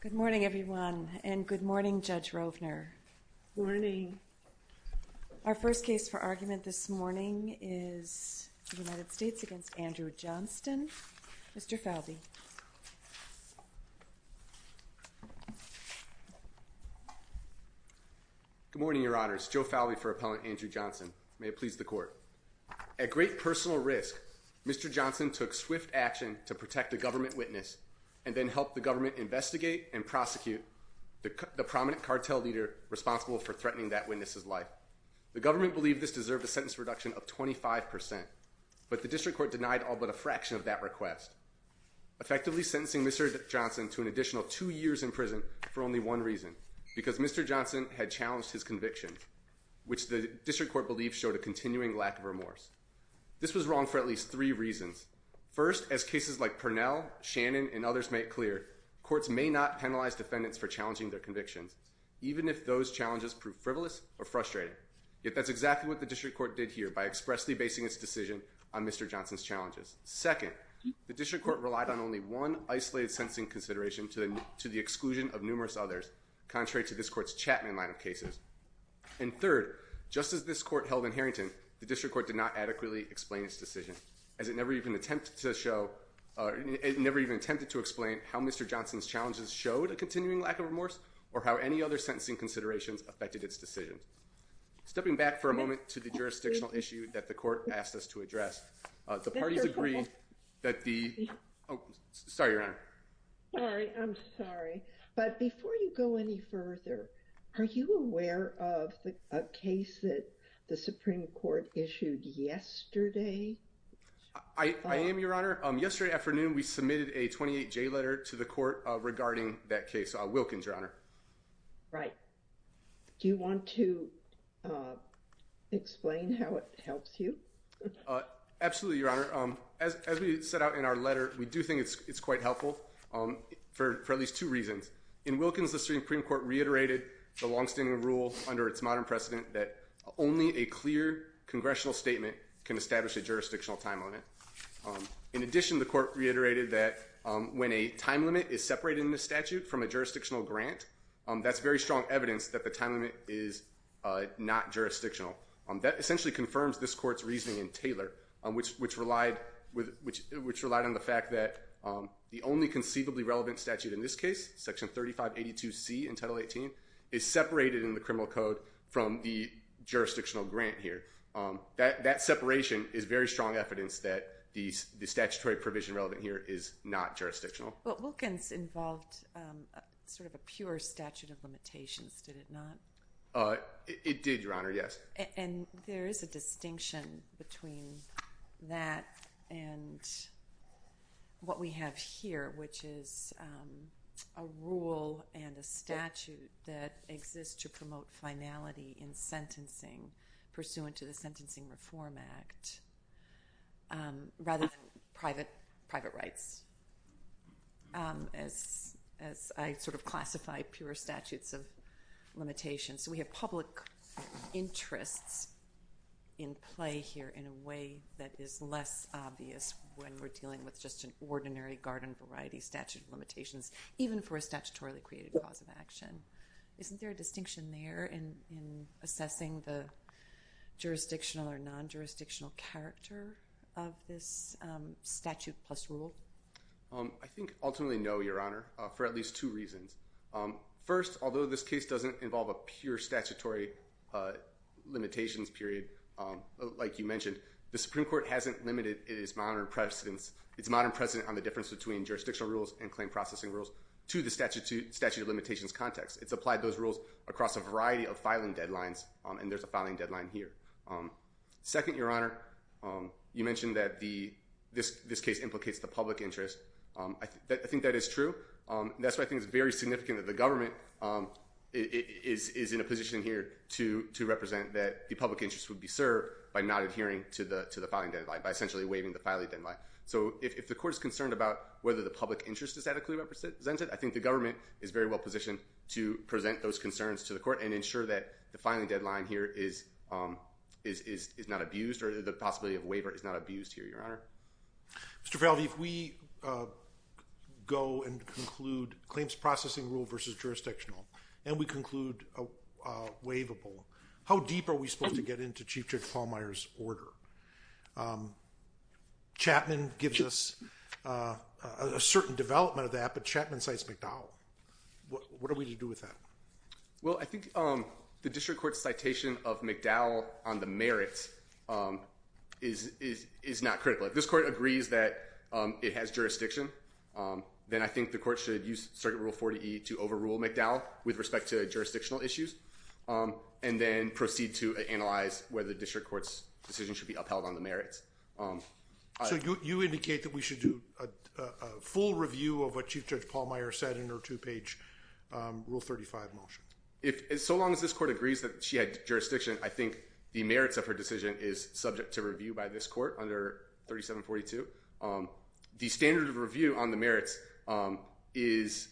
Good morning, everyone, and good morning, Judge Rovner. Good morning. Our first case for argument this morning is the United States v. Andrew Johnston. Mr. Falvey. Good morning, Your Honors. Joe Falvey for Appellant Andrew Johnston. May it please the Court. At great personal risk, Mr. Johnston took swift action to protect a government witness and then help the government investigate and prosecute the prominent cartel leader responsible for threatening that witness's life. The government believed this deserved a sentence reduction of 25%, but the district court denied all but a fraction of that request, effectively sentencing Mr. Johnston to an additional two years in prison for only one reason, because Mr. Johnston had challenged his conviction, which the district court believed showed a continuing lack of remorse. This was wrong for at least three reasons. First, as cases like Purnell, Shannon, and others make clear, courts may not penalize defendants for challenging their convictions, even if those challenges prove frivolous or frustrating. Yet that's exactly what the district court did here by expressly basing its decision on Mr. Johnston's challenges. Second, the district court relied on only one isolated sentencing consideration to the exclusion of numerous others, contrary to this court's Chapman line of cases. And third, just as this court held in Harrington, the district court did not adequately explain its decision, as it never even attempted to show or never even attempted to explain how Mr. Johnston's challenges showed a continuing lack of remorse or how any other sentencing considerations affected its decision. Stepping back for a moment to the jurisdictional issue that the court asked us to address, the parties agree that the, oh, sorry, Your Honor. Sorry, I'm sorry. But before you go any further, are you aware of a case that the Supreme Court issued yesterday? I am, Your Honor. Yesterday afternoon, we submitted a 28-J letter to the court regarding that case, Wilkins, Your Honor. Right. Do you want to explain how it helps you? Absolutely, Your Honor. As we set out in our letter, we do think it's quite helpful for at least two reasons. In Wilkins, the Supreme Court reiterated the longstanding rule under its modern precedent that only a clear congressional statement can establish a jurisdictional time limit. In addition, the court reiterated that when a time limit is separated in the statute from a jurisdictional grant, that's very strong evidence that the time limit is not jurisdictional. That essentially confirms this court's reasoning in Taylor, which relied on the fact that the only conceivably relevant statute in this case, Section 3582C in Title 18, is separated in the criminal code from the jurisdictional grant here. That separation is very strong evidence that the statutory provision relevant here is not jurisdictional. But Wilkins involved sort of a pure statute of limitations, did it not? It did, Your Honor, yes. And there is a distinction between that and what we have here, which is a rule and a statute that exists to promote finality in sentencing pursuant to the Sentencing Reform Act, rather than private rights, as I sort of classify pure statutes of limitations. So we have public interests in play here in a way that is less obvious when we're dealing with just an ordinary garden variety statute of limitations, even for a statutorily created cause of action. Isn't there a distinction there in assessing the jurisdictional or non-jurisdictional character of this statute plus rule? I think ultimately no, Your Honor, for at least two reasons. First, although this case doesn't involve a pure statutory limitations period, like you mentioned, the Supreme Court hasn't limited its modern precedence on the difference between jurisdictional rules and claim processing rules to the statute of limitations context. It's applied those rules across a variety of filing deadlines, and there's a filing deadline here. Second, Your Honor, you mentioned that this case implicates the public interest. I think that is true. That's why I think it's very significant that the government is in a position here to represent that the public interest would be served by not adhering to the filing deadline, by essentially waiving the filing deadline. So if the court is concerned about whether the public interest is adequately represented, I think the government is very well positioned to present those concerns to the court and ensure that the filing deadline here is not abused, or the possibility of waiver is not abused here, Your Honor. Mr. Favelli, if we go and conclude claims processing rule versus jurisdictional, and we conclude a waivable, how deep are we supposed to get into Chief Judge Pallmeyer's order? Chapman gives us a certain development of that, but Chapman cites McDowell. What are we to do with that? Well, I think the district court's citation of McDowell on the merits is not critical. If this court agrees that it has jurisdiction, then I think the court should use Circuit Rule 40E to overrule McDowell with respect to jurisdictional issues, and then proceed to analyze whether the district court's decision should be upheld on the merits. You indicate that we should do a full review of what Chief Judge Pallmeyer said in her two-page Rule 35 motion. So long as this court agrees that she had jurisdiction, I think the merits of her decision is subject to review by this court under 3742. The standard of review on the merits allows this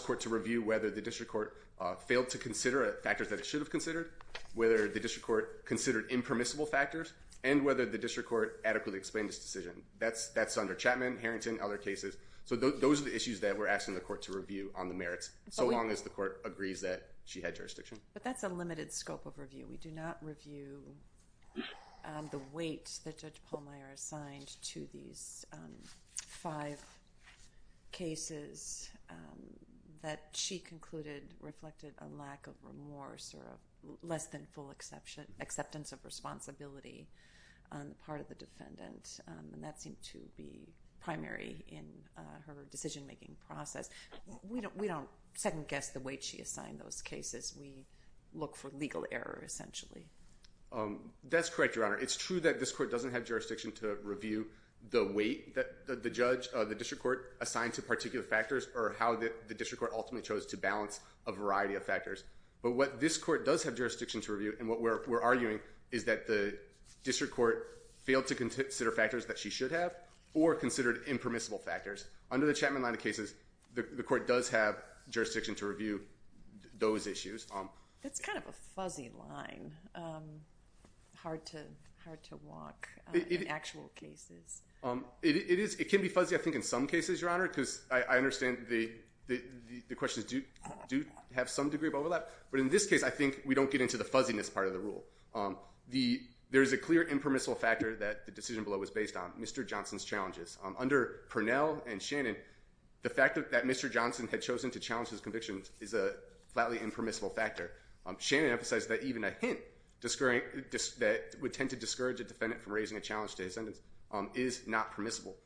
court to review whether the district court failed to consider factors that it should have considered, whether the district court considered impermissible factors, and whether the district court adequately explained its decision. That's under Chapman, Harrington, other cases. So those are the issues that we're asking the court to review on the merits, so long as the court agrees that she had jurisdiction. But that's a limited scope of review. We do not review the weight that Judge Pallmeyer assigned to these five cases that she concluded reflected a lack of remorse or a less than full acceptance of responsibility on the part of the defendant. And that seemed to be primary in her decision-making process. We don't second-guess the weight she assigned those cases. We look for legal error, essentially. That's correct, Your Honor. It's true that this court doesn't have jurisdiction to review the weight that the judge, the district court assigned to particular factors, or how the district court ultimately chose to balance a variety of factors. But what this court does have jurisdiction to review, and what we're arguing, is that the district court failed to consider factors that she should have or considered impermissible factors. Under the Chapman line of cases, the court does have jurisdiction to review those issues. That's kind of a fuzzy line, hard to walk in actual cases. It can be fuzzy, I think, in some cases, Your Honor, because I understand the questions do have some degree of overlap. But in this case, I think we don't get into the fuzziness part of the rule. There is a clear impermissible factor that the decision below is based on, Mr. Johnson's challenges. Under Purnell and Shannon, the fact that Mr. Johnson had chosen to challenge his convictions is a flatly impermissible factor. Shannon emphasized that even a hint that would tend to discourage a defendant from raising a challenge to his sentence is not permissible.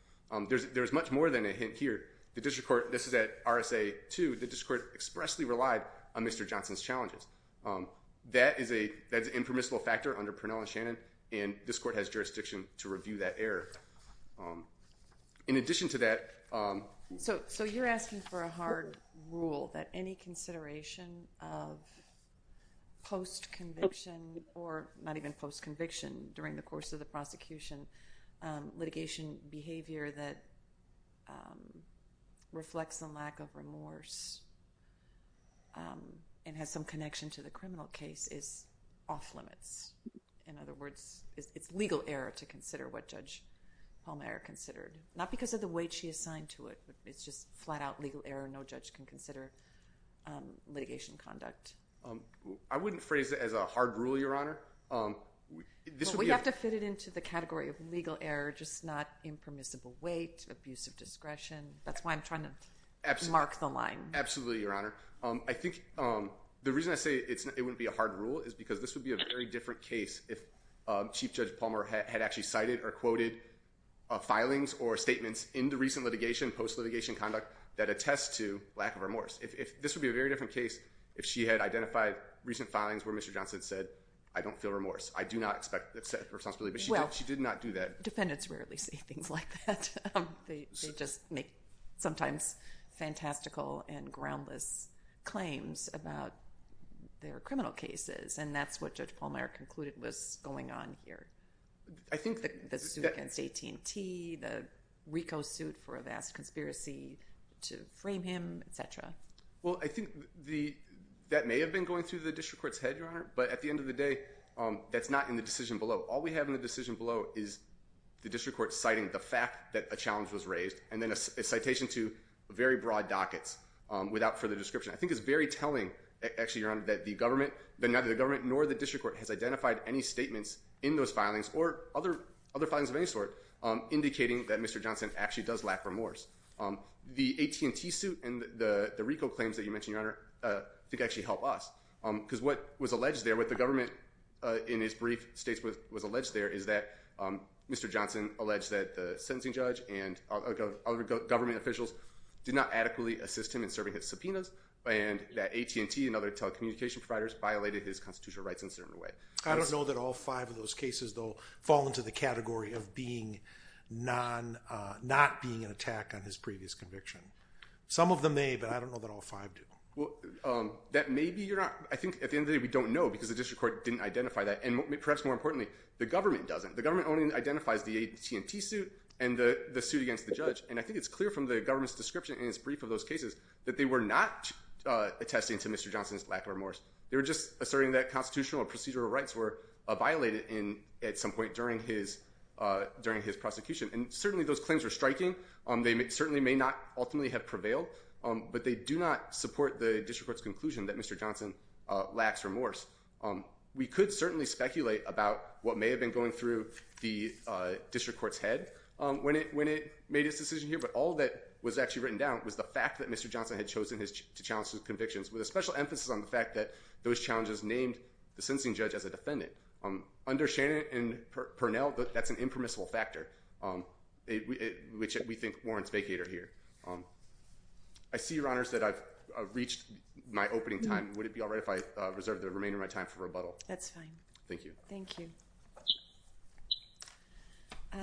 There's much more than a hint here. The district court, this is at RSA 2, the district court expressly relied on Mr. Johnson's challenges. That is an impermissible factor under Purnell and Shannon, and this court has jurisdiction to review that error. In addition to that... So you're asking for a hard rule that any consideration of post-conviction or not even post-conviction during the course of the prosecution, litigation behavior that reflects a lack of discretion to the criminal case is off-limits. In other words, it's legal error to consider what Judge Palmer considered. Not because of the weight she assigned to it, but it's just flat-out legal error. No judge can consider litigation conduct. I wouldn't phrase it as a hard rule, Your Honor. We have to fit it into the category of legal error, just not impermissible weight, abuse of discretion. Absolutely, Your Honor. I think the reason I say it wouldn't be a hard rule is because this would be a very different case if Chief Judge Palmer had actually cited or quoted filings or statements in the recent litigation, post-litigation conduct, that attest to lack of remorse. This would be a very different case if she had identified recent filings where Mr. Johnson said, I don't feel remorse. I do not accept her responsibility, but she did not do that. Defendants rarely say things like that. They just make sometimes fantastical and groundless claims about their criminal cases, and that's what Judge Palmer concluded was going on here. I think that— The suit against AT&T, the RICO suit for a vast conspiracy to frame him, et cetera. Well, I think that may have been going through the district court's head, Your Honor, but at the end of the day, that's not in the decision below. All we have in the decision below is the district court citing the fact that a challenge was raised and then a citation to very broad dockets without further description. I think it's very telling, actually, Your Honor, that neither the government nor the district court has identified any statements in those filings or other filings of any sort indicating that Mr. Johnson actually does lack remorse. The AT&T suit and the RICO claims that you mentioned, Your Honor, I think actually help us. Because what was alleged there, what the government in its brief states was alleged there is that Mr. Johnson alleged that the sentencing judge and other government officials did not adequately assist him in serving his subpoenas, and that AT&T and other telecommunication providers violated his constitutional rights in a certain way. I don't know that all five of those cases, though, fall into the category of not being an attack on his previous conviction. Some of them may, but I don't know that all five do. Well, that may be, Your Honor. I think at the end of the day, we don't know because the district court didn't identify that. And perhaps more importantly, the government doesn't. The government only identifies the AT&T suit and the suit against the judge. And I think it's clear from the government's description in its brief of those cases that they were not attesting to Mr. Johnson's lack of remorse. They were just asserting that constitutional or procedural rights were violated at some point during his prosecution. And certainly those claims were striking. They certainly may not ultimately have prevailed. But they do not support the district court's conclusion that Mr. Johnson lacks remorse. We could certainly speculate about what may have been going through the district court's head when it made its decision here. But all that was actually written down was the fact that Mr. Johnson had chosen to challenge his convictions, with a special emphasis on the fact that those challenges named the sentencing judge as a defendant. Under Shannon and Purnell, that's an impermissible factor, which we think warrants vacator here. I see, Your Honors, that I've reached my opening time. Would it be all right if I reserve the remainder of my time for rebuttal? That's fine. Thank you. Thank you.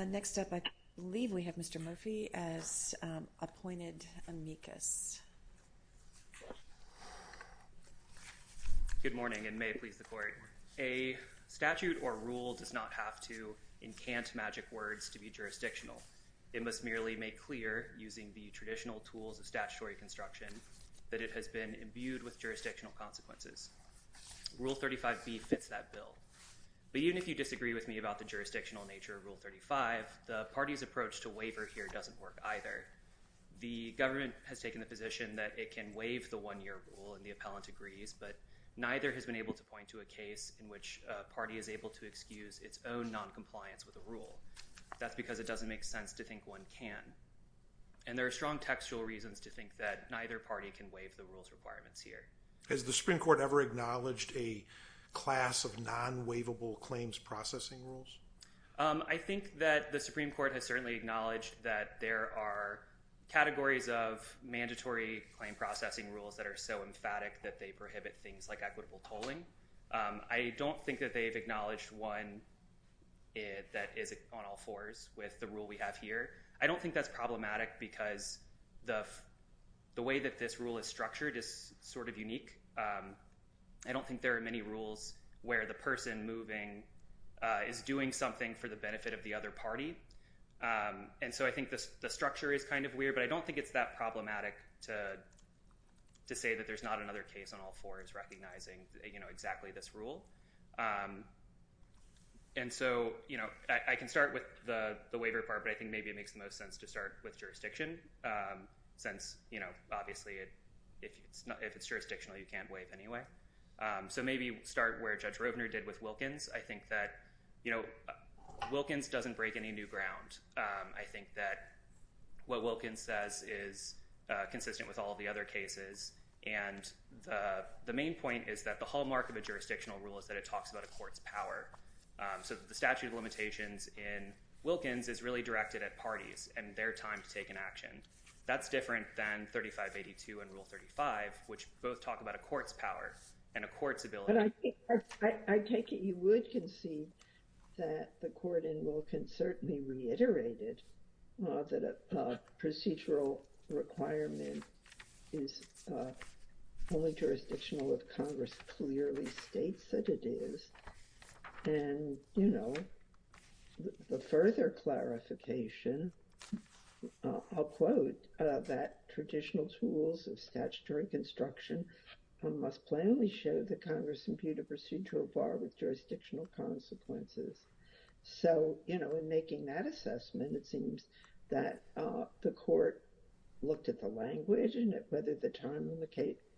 Next up, I believe we have Mr. Murphy as appointed amicus. Good morning, and may it please the Court. A statute or rule does not have to encant magic words to be jurisdictional. It must merely make clear, using the traditional tools of statutory construction, that it has been imbued with jurisdictional consequences. Rule 35B fits that bill. But even if you disagree with me about the jurisdictional nature of Rule 35, the party's approach to waiver here doesn't work either. The government has taken the position that it can waive the one-year rule, and the appellant agrees, but neither has been able to point to a case in which a party is able to excuse its own noncompliance with a rule. That's because it doesn't make sense to think one can. And there are strong textual reasons to think that neither party can waive the rules requirements here. Has the Supreme Court ever acknowledged a class of non-waivable claims processing rules? I think that the Supreme Court has certainly acknowledged that there are categories of mandatory claim processing rules that are so emphatic that they prohibit things like equitable tolling. I don't think that they've acknowledged one that is on all fours with the rule we have here. I don't think that's problematic because the way that this rule is structured is sort of unique. I don't think there are many rules where the person moving is doing something for the benefit of the other party. And so I think the structure is kind of weird, but I don't think it's that problematic to say that there's not another case on all fours recognizing exactly this rule. And so I can start with the waiver part, but I think maybe it makes the most sense to start with jurisdiction, since obviously if it's jurisdictional, you can't waive anyway. So maybe start where Judge Rovner did with Wilkins. I think that Wilkins doesn't break any new ground. I think that what Wilkins says is consistent with all the other cases. And the main point is that the hallmark of a jurisdictional rule is that it talks about a court's power. So the statute of limitations in Wilkins is really directed at parties and their time to take an action. That's different than 3582 and Rule 35, which both talk about a court's power and a court's ability. But I take it you would concede that the court in Wilkins certainly reiterated that a procedural requirement is only jurisdictional if Congress clearly states that it is. And the further clarification, I'll quote, that traditional tools of statutory construction must plainly show that Congress imbued a procedural bar with jurisdictional consequences. So, you know, in making that assessment, it seems that the court looked at the language and whether the time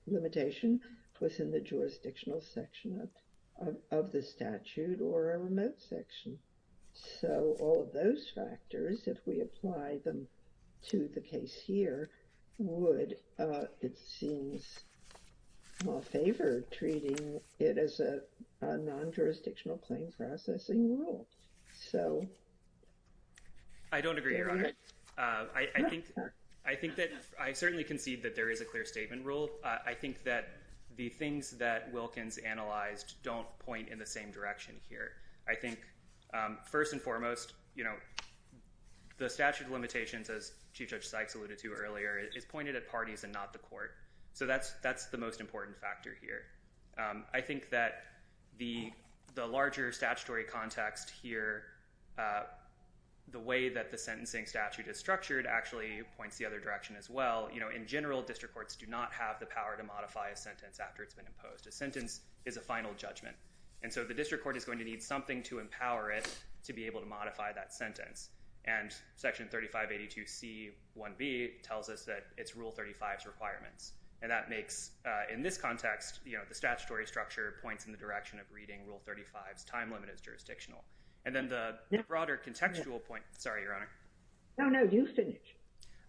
limitation was in the jurisdictional section of the statute or a remote section. So all of those factors, if we apply them to the case here, would, it seems, favor treating it as a non-jurisdictional claim processing rule. So... I don't agree, Your Honor. I think that I certainly concede that there is a clear statement rule. I think that the things that Wilkins analyzed don't point in the same direction here. I think, first and foremost, you know, the statute of limitations, as Chief Judge Sykes alluded to earlier, is pointed at parties and not the court. So that's the most important factor here. I think that the larger statutory context here, the way that the sentencing statute is structured actually points the other direction as well. You know, in general, district courts do not have the power to modify a sentence after it's been imposed. A sentence is a final judgment. And so the district court is going to need something to empower it to be able to modify that sentence. And Section 3582C1B tells us that it's Rule 35's requirements. And that makes, in this context, you know, the statutory structure points in the direction of reading Rule 35's time limit as jurisdictional. And then the broader contextual point... Sorry, Your Honor. No, no, you finish.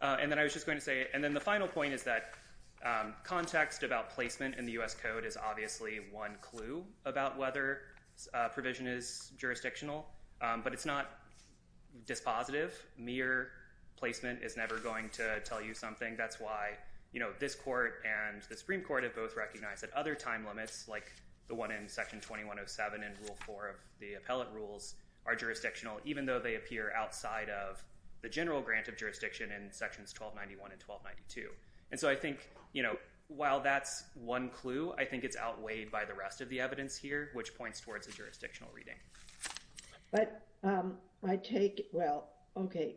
And then I was just going to say... And then the final point is that context about placement in the U.S. Code is obviously one clue about whether a provision is jurisdictional. But it's not dispositive. Mere placement is never going to tell you something. That's why, you know, this court and the Supreme Court have both recognized that other time limits, like the one in Section 2107 and Rule 4 of the appellate rules, are jurisdictional, even though they appear outside of the general grant of jurisdiction in Sections 1291 and 1292. And so I think, you know, while that's one clue, I think it's outweighed by the rest of the evidence here, which points towards a jurisdictional reading. But I take... Well, okay.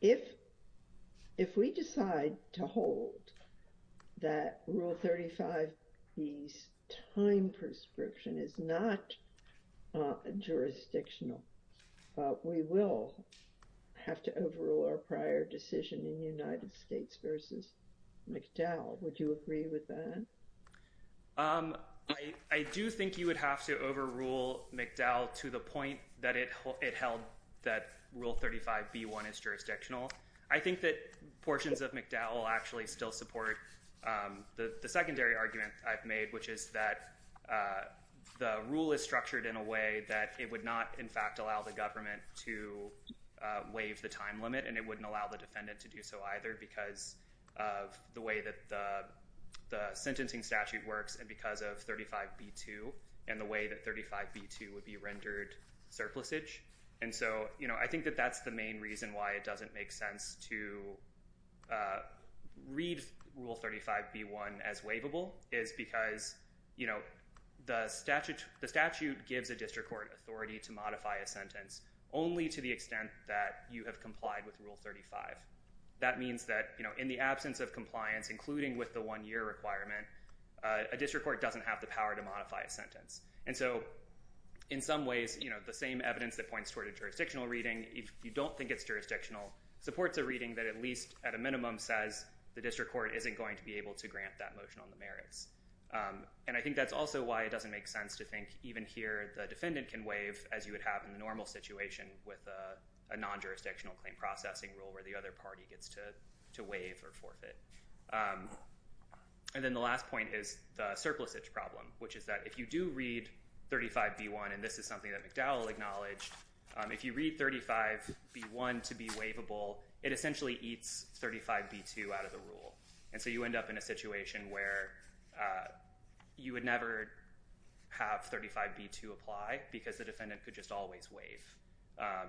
If we decide to hold that Rule 35B's time prescription is not jurisdictional, we will have to overrule our prior decision in the United States versus McDowell. Would you agree with that? I do think you would have to overrule McDowell to the point that it held that Rule 35B1 is jurisdictional. I think that portions of McDowell actually still support the secondary argument I've made, which is that the rule is structured in a way that it would not, in fact, allow the government to waive the time limit, and it wouldn't allow the defendant to do so either because of the way that the sentencing statute works and because of 35B2 and the way that 35B2 would be rendered surplusage. And so, you know, I think that that's the main reason why it doesn't make sense to read Rule 35B1 as waivable, is because, you know, the statute gives a district court authority to modify a sentence only to the extent that you have complied with Rule 35. That means that, you know, in the absence of compliance, including with the one-year requirement, a district court doesn't have the power to modify a sentence. And so, in some ways, you know, the same evidence that points toward a jurisdictional reading, if you don't think it's jurisdictional, supports a reading that at least at a minimum says the district court isn't going to be able to grant that motion on the merits. And I think that's also why it doesn't make sense to think even here the defendant can waive as you would have in the normal situation with a non-jurisdictional claim processing rule where the other party gets to waive or forfeit. And then the last point is the surplusage problem, which is that if you do read 35B1, and this is something that McDowell acknowledged, if you read 35B1 to be waivable, it essentially eats 35B2 out of the rule. And so you end up in a situation where you would never have 35B2 apply because the defendant could just always waive.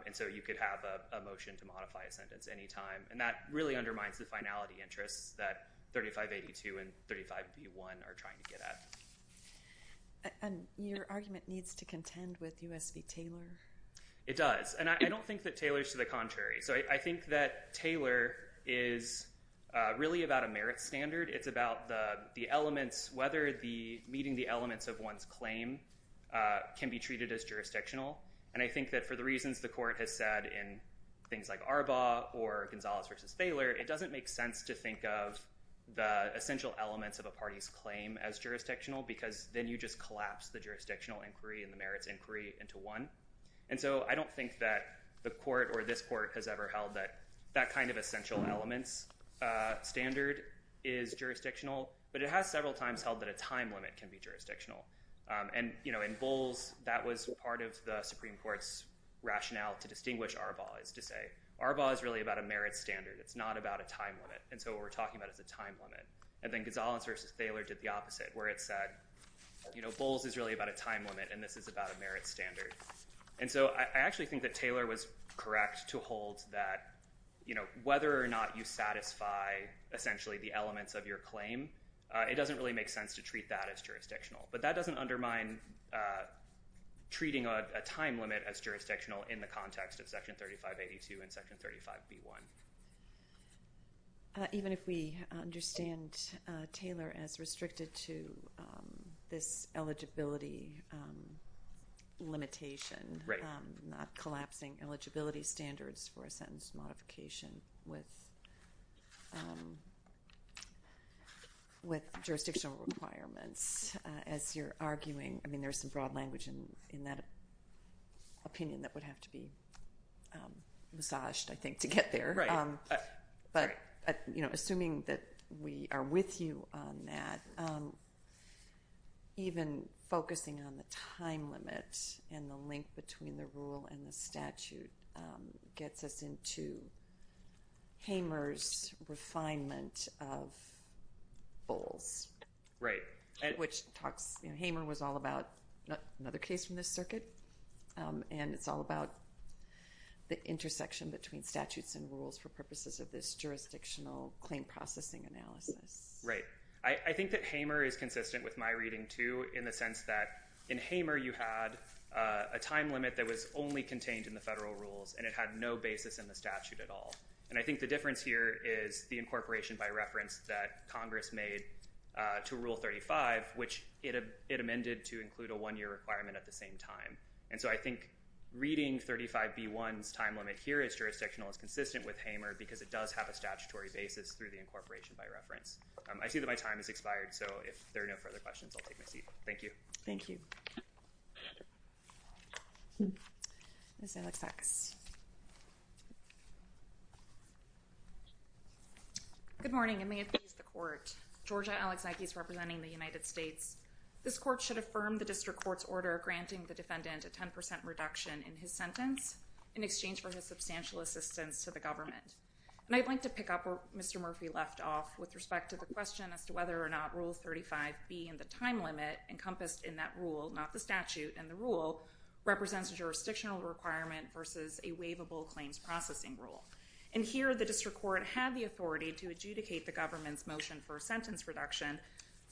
And so you could have a motion to modify a sentence anytime. And that really undermines the finality interests that 3582 and 35B1 are trying to get at. And your argument needs to contend with U.S. v. Taylor? It does. And I don't think that Taylor's to the contrary. So I think that Taylor is really about a merit standard. It's about the elements, whether meeting the elements of one's claim can be treated as jurisdictional. And I think that for the reasons the court has said in things like Arbaugh or Gonzalez v. Thaler, it doesn't make sense to think of the essential elements of a party's claim as jurisdictional because then you just collapse the jurisdictional inquiry and the merits inquiry into one. And so I don't think that the court or this court has ever held that that kind of essential elements standard is jurisdictional. But it has several times held that a time limit can be jurisdictional. And in Bowles, that was part of the Supreme Court's rationale to distinguish Arbaugh, is to say Arbaugh is really about a merit standard. It's not about a time limit. And so what we're talking about is a time limit. And then Gonzalez v. Thaler did the opposite, where it said Bowles is really about a time limit and this is about a merit standard. And so I actually think that Thaler was correct to hold that whether or not you satisfy essentially the elements of your claim, it doesn't really make sense to treat that as jurisdictional. But that doesn't undermine treating a time limit as jurisdictional in the context of Section 3582 and Section 35B1. Even if we understand Thaler as restricted to this eligibility limitation, not collapsing eligibility standards for a sentence modification with jurisdictional requirements, as you're arguing, I mean there's some broad language in that opinion that would have to be massaged I think to get there. Right. But assuming that we are with you on that, even focusing on the time limit and the link between the rule and the statute gets us into Hamer's refinement of Bowles. Right. Which talks, you know, Hamer was all about another case from this circuit and it's all about the intersection between statutes and rules for purposes of this jurisdictional claim processing analysis. Right. I think that Hamer is consistent with my reading too in the sense that in Hamer you had a time limit that was only contained in the federal rules and it had no basis in the statute at all. And I think the difference here is the incorporation by reference that Congress made to Rule 35, which it amended to include a one-year requirement at the same time. And so I think reading 35B1's time limit here as jurisdictional is consistent with Hamer because it does have a statutory basis through the incorporation by reference. I see that my time has expired, so if there are no further questions, I'll take my seat. Thank you. Thank you. Ms. Alexakis. Good morning, and may it please the Court. Georgia Alexakis representing the United States. This Court should affirm the district court's order granting the defendant a 10% reduction in his sentence in exchange for his substantial assistance to the government. And I'd like to pick up where Mr. Murphy left off with respect to the question as to whether or not Rule 35B and the time limit encompassed in that rule, not the statute and the rule, represents a jurisdictional requirement versus a waivable claims processing rule. And here the district court had the authority to adjudicate the government's motion for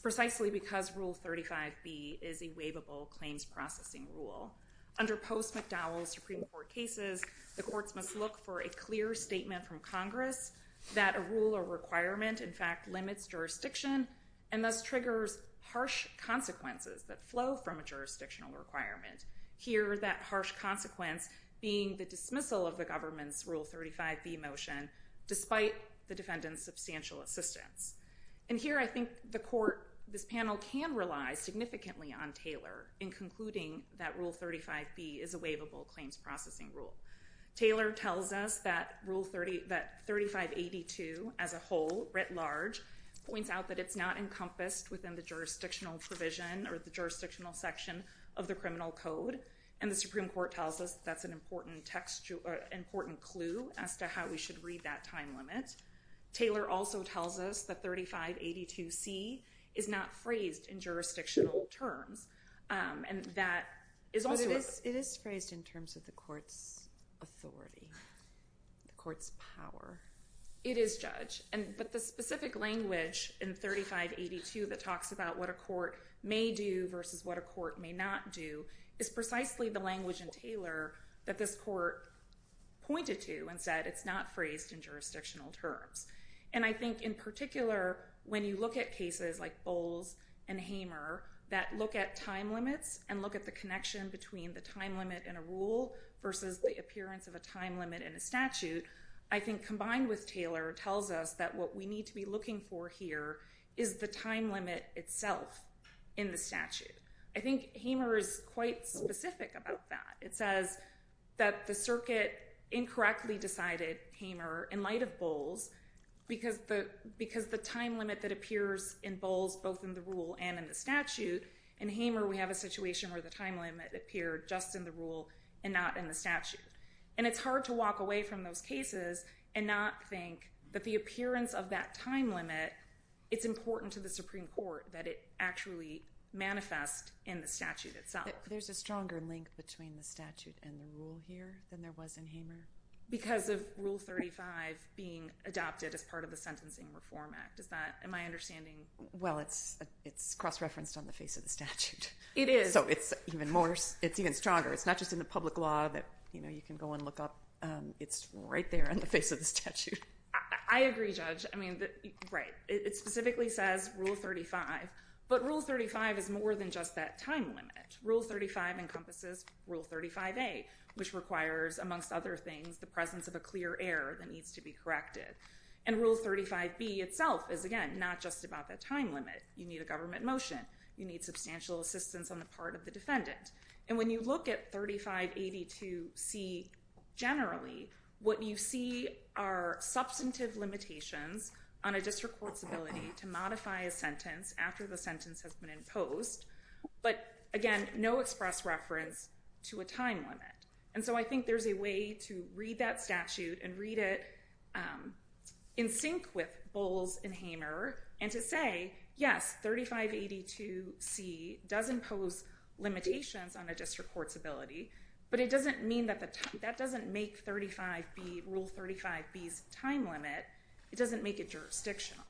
Rule 35B is a waivable claims processing rule. Under post-McDowell Supreme Court cases, the courts must look for a clear statement from Congress that a rule or requirement in fact limits jurisdiction and thus triggers harsh consequences that flow from a jurisdictional requirement. Here, that harsh consequence being the dismissal of the government's Rule 35B motion despite the defendant's substantial assistance. And here I think the court, this panel, can rely significantly on Taylor in concluding that Rule 35B is a waivable claims processing rule. Taylor tells us that Rule 3582 as a whole, writ large, points out that it's not encompassed within the jurisdictional provision or the jurisdictional section of the criminal code, and the Supreme Court tells us that's an important clue as to how we should read that time limit. Taylor also tells us that 3582C is not phrased in jurisdictional terms. And that is also... But it is phrased in terms of the court's authority, the court's power. It is, Judge. But the specific language in 3582 that talks about what a court may do versus what a court may not do is precisely the language in Taylor that this court pointed to and said it's not in jurisdictional terms. And I think in particular, when you look at cases like Bowles and Hamer that look at time limits and look at the connection between the time limit in a rule versus the appearance of a time limit in a statute, I think combined with Taylor tells us that what we need to be looking for here is the time limit itself in the statute. I think Hamer is quite specific about that. It says that the circuit incorrectly decided Hamer in light of Bowles because the time limit that appears in Bowles both in the rule and in the statute, in Hamer we have a situation where the time limit appeared just in the rule and not in the statute. And it's hard to walk away from those cases and not think that the appearance of that time limit, it's important to the Supreme Court that it actually manifest in the statute itself. But there's a stronger link between the statute and the rule here than there was in Hamer? Because of Rule 35 being adopted as part of the Sentencing Reform Act. Am I understanding? Well, it's cross-referenced on the face of the statute. It is. So it's even stronger. It's not just in the public law that you can go and look up. It's right there on the face of the statute. I agree, Judge. Right. It specifically says Rule 35. But Rule 35 is more than just that time limit. Rule 35 encompasses Rule 35A, which requires, amongst other things, the presence of a clear error that needs to be corrected. And Rule 35B itself is, again, not just about that time limit. You need a government motion. You need substantial assistance on the part of the defendant. And when you look at 3582C generally, what you see are substantive limitations on a district court's ability to modify a sentence after the sentence has been imposed. But, again, no express reference to a time limit. And so I think there's a way to read that statute and read it in sync with Bowles and Hamer and to say, yes, 3582C does impose limitations on a district court's ability. But it doesn't mean that that doesn't make Rule 35B's time limit. It doesn't make it jurisdictional.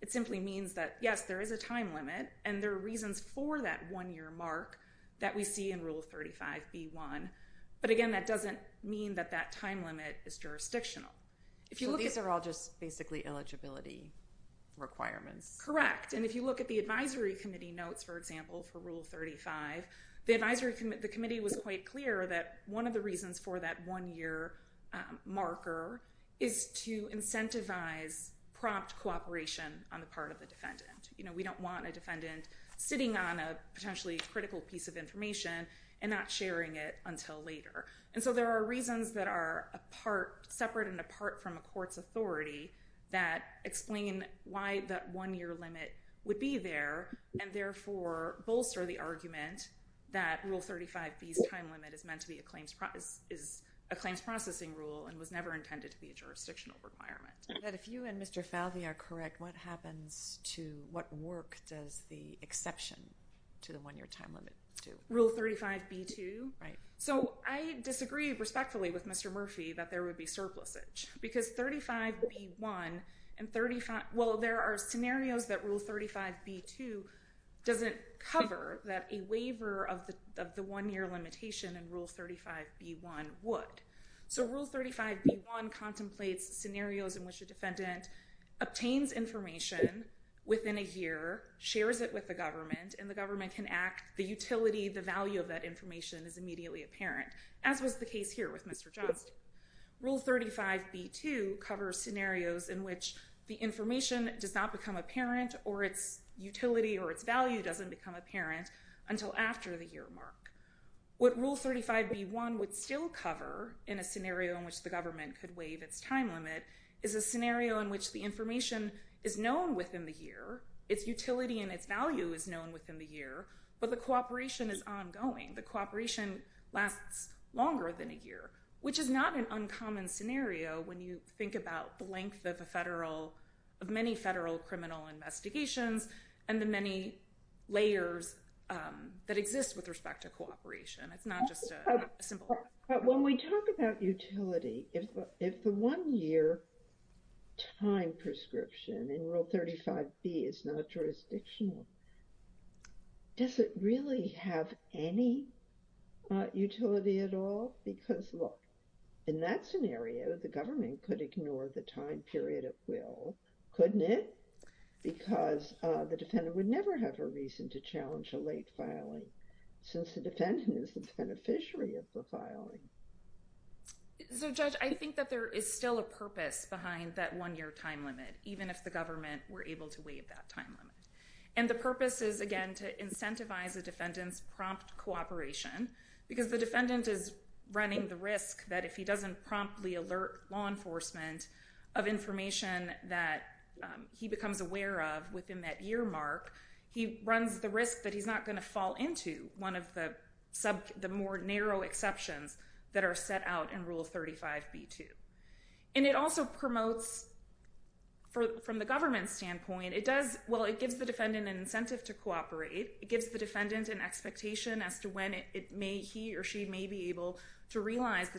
It simply means that, yes, there is a time limit, and there are reasons for that one-year mark that we see in Rule 35B1. But, again, that doesn't mean that that time limit is jurisdictional. So these are all just basically eligibility requirements? Correct. And if you look at the advisory committee notes, for example, for Rule 35, the committee was quite clear that one of the reasons for that one-year marker is to incentivize prompt cooperation on the part of the defendant. You know, we don't want a defendant sitting on a potentially critical piece of information and not sharing it until later. And so there are reasons that are separate and apart from a court's authority that explain why that one-year limit would be there and therefore bolster the argument that Rule 35B's time limit is meant to be a claims processing rule and was never intended to be a jurisdictional requirement. And if you and Mr. Falvey are correct, what happens to, what work does the exception to the one-year time limit do? Rule 35B2? Right. So I disagree respectfully with Mr. Murphy that there would be surplusage. Because 35B1 and 35, well, there are scenarios that Rule 35B2 doesn't cover that a waiver of the one-year limitation in Rule 35B1 would. So Rule 35B1 contemplates scenarios in which a defendant obtains information within a year, shares it with the government, and the government can act, the utility, the value of that information is immediately apparent, as was the case here with Mr. Johnston. Rule 35B2 covers scenarios in which the information does not become apparent or its utility or its value doesn't become apparent until after the year mark. What Rule 35B1 would still cover in a scenario in which the government could waive its time limit is a scenario in which the information is known within the year, its utility and its value is known within the year, but the cooperation is ongoing. The cooperation lasts longer than a year, which is not an uncommon scenario when you think about the length of a federal, of many federal criminal investigations and the many layers that exist with respect to cooperation. It's not just a simple... But when we talk about utility, if the one-year time prescription in Rule 35B is not jurisdictional, does it really have any utility at all? Because, look, in that scenario, the government could ignore the time period at will, couldn't it? Because the defendant would never have a reason to challenge a late filing, since the defendant is the beneficiary of the filing. So, Judge, I think that there is still a purpose behind that one-year time limit, even if the government were able to waive that time limit. And the purpose is, again, to incentivize the defendant's prompt cooperation, because the defendant is running the risk that if he doesn't promptly alert law enforcement of information that he becomes aware of within that year mark, he runs the risk that he's not going to fall into one of the more narrow exceptions that are set out in Rule 35B-2. And it also promotes, from the government's standpoint, it does... Well, it gives the defendant an incentive to cooperate. It gives the defendant an expectation as to when he or she may be able to realize the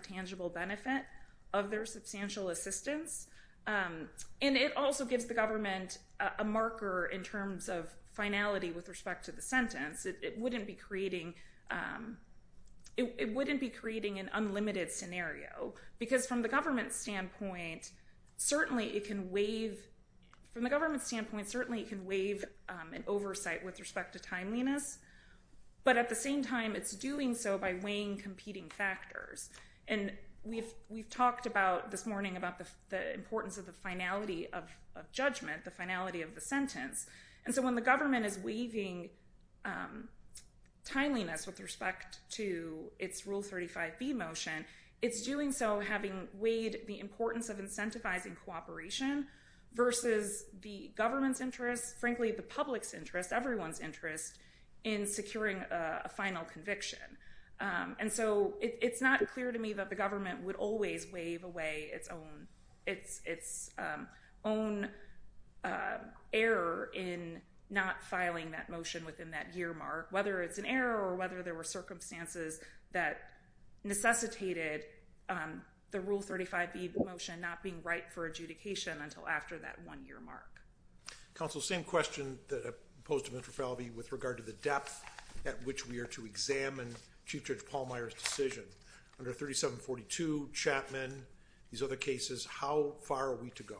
assistance. And it also gives the government a marker in terms of finality with respect to the sentence. It wouldn't be creating an unlimited scenario. Because from the government's standpoint, certainly it can waive an oversight with respect to timeliness. But at the same time, it's doing so by weighing competing factors. And we've talked this morning about the importance of the finality of judgment, the finality of the sentence. And so when the government is waiving timeliness with respect to its Rule 35B motion, it's doing so having weighed the importance of incentivizing cooperation versus the government's interest, frankly, the public's interest, everyone's interest in securing a final conviction. And so it's not clear to me that the government would always waive away its own error in not filing that motion within that year mark, whether it's an error or whether there were circumstances that necessitated the Rule 35B motion not being right for adjudication until after that one-year mark. Counsel, same question that I posed to Mr. Falvey with regard to the depth at which we are to examine Chief Judge Pallmeyer's decision. Under 3742A, Chapman, these other cases, how far are we to go?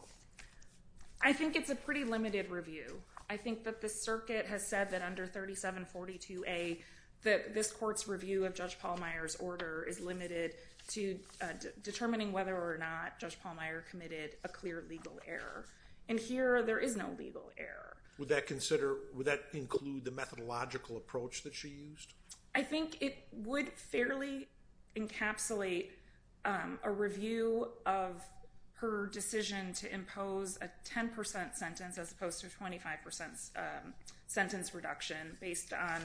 I think it's a pretty limited review. I think that the circuit has said that under 3742A, that this court's review of Judge Pallmeyer's order is limited to determining whether or not Judge Pallmeyer committed a clear legal error. And here, there is no legal error. Would that include the methodological approach that she used? I think it would fairly encapsulate a review of her decision to impose a 10% sentence as opposed to a 25% sentence reduction based on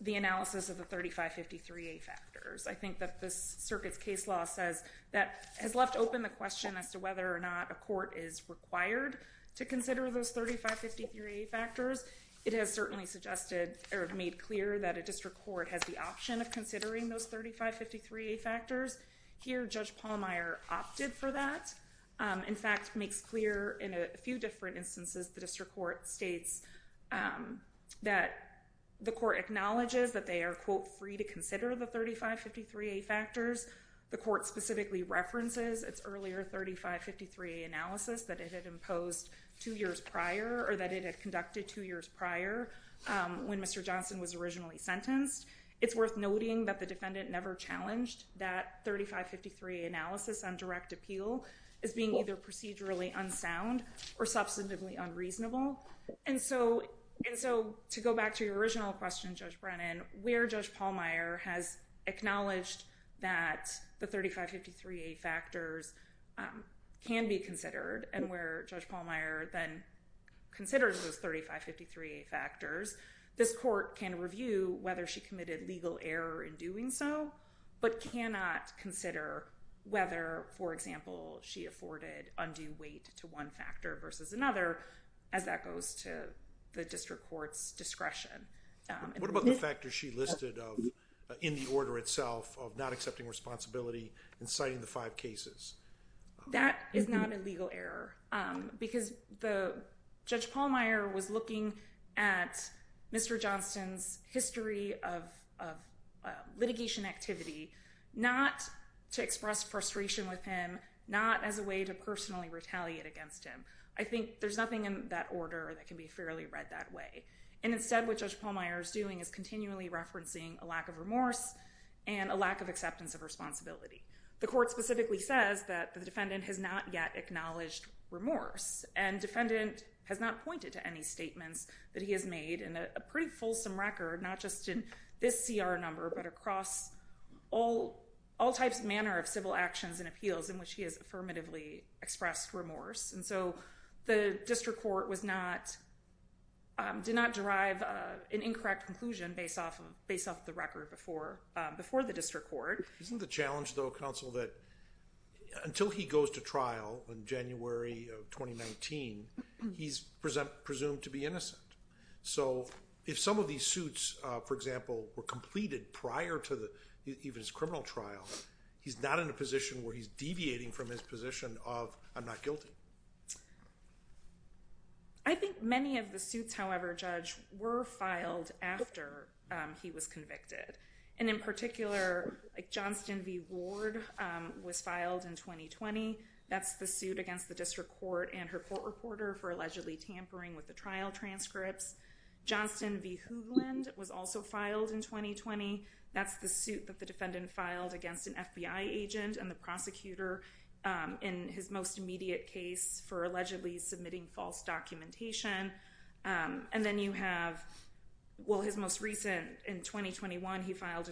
the analysis of the 3553A factors. I think that this circuit's case law says that has left open the question as to whether or not a court is required to consider those 3553A factors. It has certainly suggested or made clear that a district court has the option of considering those 3553A factors. Here, Judge Pallmeyer opted for that. In fact, makes clear in a few different instances the district court states that the court acknowledges that they are, quote, free to consider the 3553A factors. The court specifically references its earlier 3553A analysis that it had imposed two years prior or that it had conducted two years prior when Mr. Johnson was originally sentenced. It's worth noting that the defendant never challenged that 3553A analysis on direct appeal as being either procedurally unsound or substantively unreasonable. And so to go back to your original question, Judge Brennan, where Judge Pallmeyer has acknowledged that the 3553A factors can be considered and where Judge Pallmeyer then considers those 3553A factors, this court can review whether she committed legal error in doing so but cannot consider whether, for example, she afforded undue weight to one factor versus another as that goes to the district court's discretion. What about the factors she listed in the order itself of not accepting responsibility and citing the five cases? That is not a legal error because Judge Pallmeyer was looking at Mr. Johnson's history of litigation activity not to express frustration with him, not as a way to personally retaliate against him. I think there's nothing in that order that can be fairly read that way. And instead what Judge Pallmeyer is doing is continually referencing a lack of remorse and a lack of acceptance of responsibility. The court specifically says that the defendant has not yet acknowledged remorse. And defendant has not pointed to any statements that he has made in a pretty fulsome record, not just in this CR number but across all types of manner of civil actions and appeals in which he has affirmatively expressed remorse. And so the district court did not derive an incorrect conclusion based off the record before the district court. Isn't the challenge, though, counsel, that until he goes to trial in January of 2019, he's presumed to be innocent? So if some of these suits, for example, were completed prior to even his criminal trial, he's not in a position where he's deviating from his position of I'm not guilty. I think many of the suits, however, Judge, were filed after he was convicted. And in particular, Johnston v. Ward was filed in 2020. That's the suit against the district court and her court reporter for allegedly tampering with the trial transcripts. Johnston v. Hoogland was also filed in 2020. That's the suit that the defendant filed against an FBI agent and the prosecutor in his most immediate case for allegedly submitting false documentation. And then you have, well, his most recent, in 2021, he filed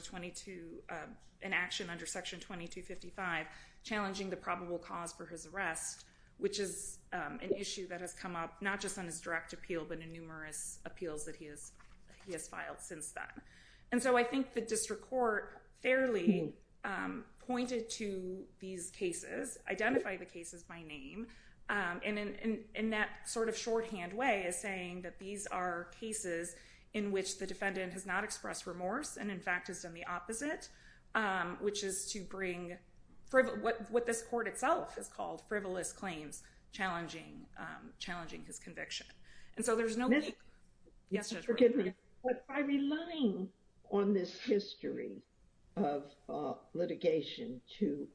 an action under Section 2255 challenging the probable cause for his arrest, which is an issue that has come up not just on his direct appeal but in numerous appeals that he has filed since then. And so I think the district court fairly pointed to these cases, identified the cases by name, and in that sort of shorthand way is saying that these are cases in which the defendant has not expressed remorse and, in fact, has done the opposite, which is to bring what this court itself has called frivolous claims challenging his conviction. And so there's no— But by relying on this history of litigation to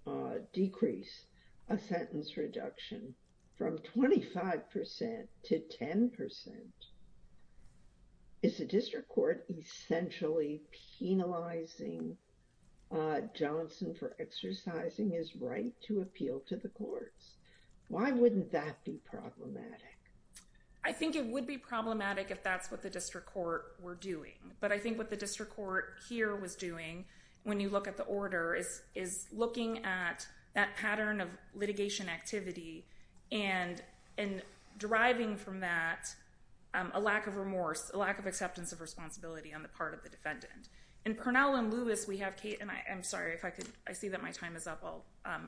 decrease a sentence reduction from 25 percent to 10 percent, is the district court essentially penalizing Johnston for exercising his right to appeal to the courts? Why wouldn't that be problematic? I think it would be problematic if that's what the district court were doing. But I think what the district court here was doing, when you look at the order, is looking at that pattern of litigation activity and deriving from that a lack of remorse, a lack of acceptance of responsibility on the part of the defendant. In Purnell and Lewis, we have—and I'm sorry if I could—I see that my time is up. I'll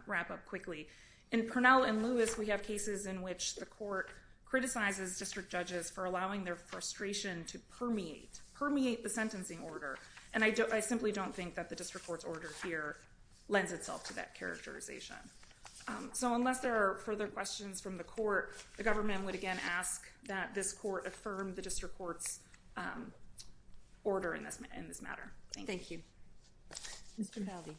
wrap up quickly. In Purnell and Lewis, we have cases in which the court criticizes district judges for allowing their frustration to permeate, permeate the sentencing order. And I simply don't think that the district court's order here lends itself to that characterization. So unless there are further questions from the court, the government would, again, ask that this court affirm the district court's order in this matter. Thank you. Thank you. Mr. Haldi.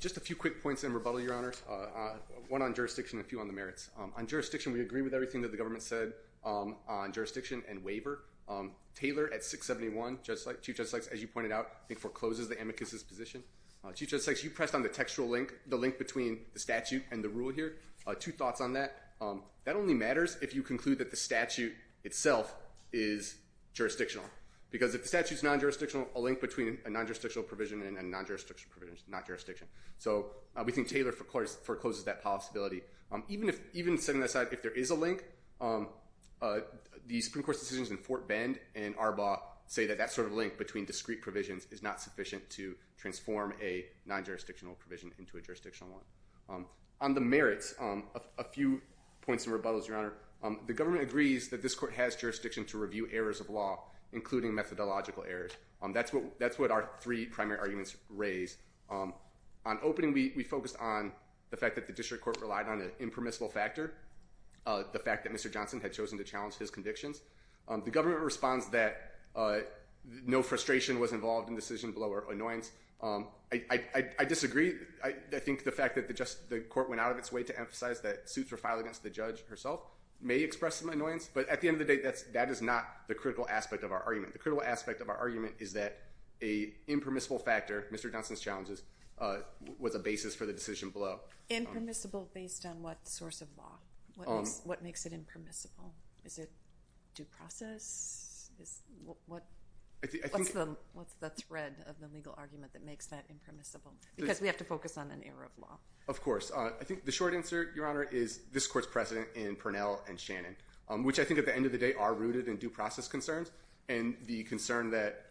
Just a few quick points in rebuttal, Your Honors. One on jurisdiction, a few on the merits. On jurisdiction, we agree with everything that the government said on jurisdiction and waiver. Taylor, at 671, Chief Justice Sykes, as you pointed out, I think forecloses the amicus's position. Chief Justice Sykes, you pressed on the textual link, the link between the statute and the rule here. Two thoughts on that. That only matters if you conclude that the statute itself is jurisdictional. Because if the statute's non-jurisdictional, a link between a non-jurisdictional provision and a non-jurisdictional provision is not jurisdiction. So we think Taylor forecloses that possibility. Even setting that aside, if there is a link, the Supreme Court's decisions in Fort Bend and Arbaugh say that that sort of link between discrete provisions is not sufficient to transform a non-jurisdictional provision into a jurisdictional one. On the merits, a few points and rebuttals, Your Honor. The government agrees that this court has jurisdiction to review errors of law, including methodological errors. That's what our three primary arguments raise. On opening, we focused on the fact that the district court relied on an impermissible factor, the fact that Mr. Johnson had chosen to challenge his convictions. The government responds that no frustration was involved in decision-blower annoyance. I disagree. I think the fact that the court went out of its way to emphasize that suits were filed against the judge herself may express some annoyance. But at the end of the day, that is not the critical aspect of our argument. The critical aspect of our argument is that an impermissible factor, Mr. Johnson's challenges, was a basis for the decision below. Impermissible based on what source of law? What makes it impermissible? Is it due process? What's the thread of the legal argument that makes that impermissible? Because we have to focus on an error of law. Of course. I think the short answer, Your Honor, is this court's precedent in Purnell and Shannon, which I think at the end of the day are rooted in due process concerns and the concern that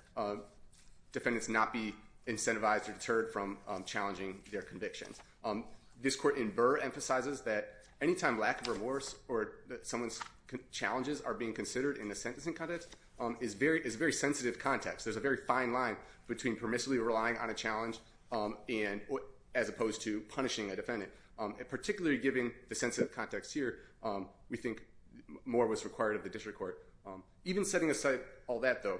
defendants not be incentivized or deterred from challenging their convictions. This court in Burr emphasizes that any time lack of remorse or someone's challenges are being considered in the sentencing context is a very sensitive context. There's a very fine line between permissibly relying on a challenge as opposed to punishing a defendant. And particularly given the sensitive context here, we think more was required of the district court. Even setting aside all that, though,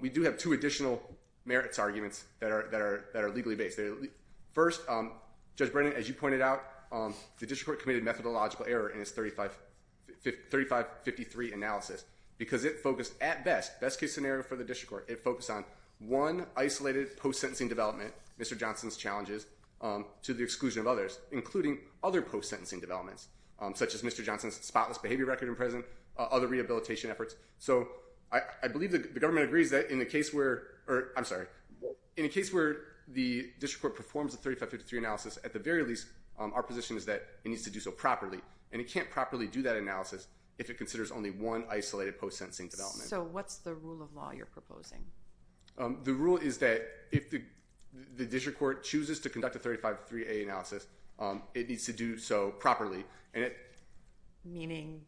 we do have two additional merits arguments that are legally based. First, Judge Brennan, as you pointed out, the district court committed methodological error in its 3553 analysis because it focused at best, best case scenario for the district court, it focused on one isolated post-sentencing development, Mr. Johnson's challenges, to the exclusion of others, including other post-sentencing developments such as Mr. Johnson's spotless behavior record in prison, other rehabilitation efforts. So I believe the government agrees that in a case where the district court performs a 3553 analysis, at the very least, our position is that it needs to do so properly. And it can't properly do that analysis if it considers only one isolated post-sentencing development. So what's the rule of law you're proposing? The rule is that if the district court chooses to conduct a 3553A analysis, it needs to do so properly. Meaning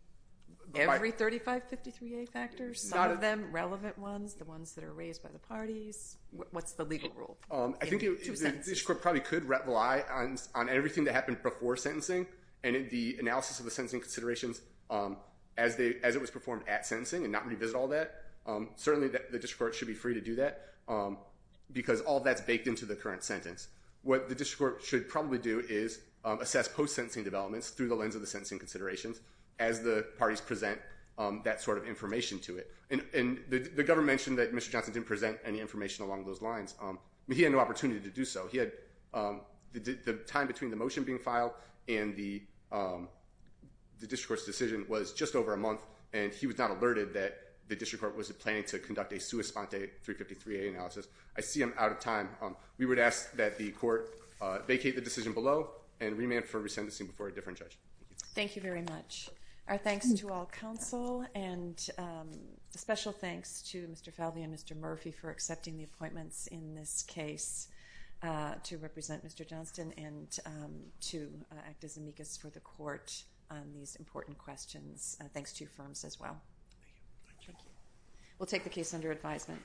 every 3553A factors? Some of them, relevant ones, the ones that are raised by the parties? What's the legal rule? I think the district court probably could rely on everything that happened before sentencing and the analysis of the sentencing considerations as it was performed at sentencing and not revisit all that. Certainly the district court should be free to do that because all that's baked into the current sentence. What the district court should probably do is assess post-sentencing developments through the lens of the sentencing considerations as the parties present that sort of information to it. And the government mentioned that Mr. Johnson didn't present any information along those lines. He had no opportunity to do so. The time between the motion being filed and the district court's decision was just over a month, and he was not alerted that the district court was planning to conduct a sua sponte 353A analysis. I see him out of time. We would ask that the court vacate the decision below and remand for resentencing before a different judge. Thank you very much. Our thanks to all counsel, and a special thanks to Mr. Falvey and Mr. Murphy for accepting the appointments in this case to represent Mr. Johnson and to act as amicus for the court on these important questions. Thanks to you firms as well. We'll take the case under advisement.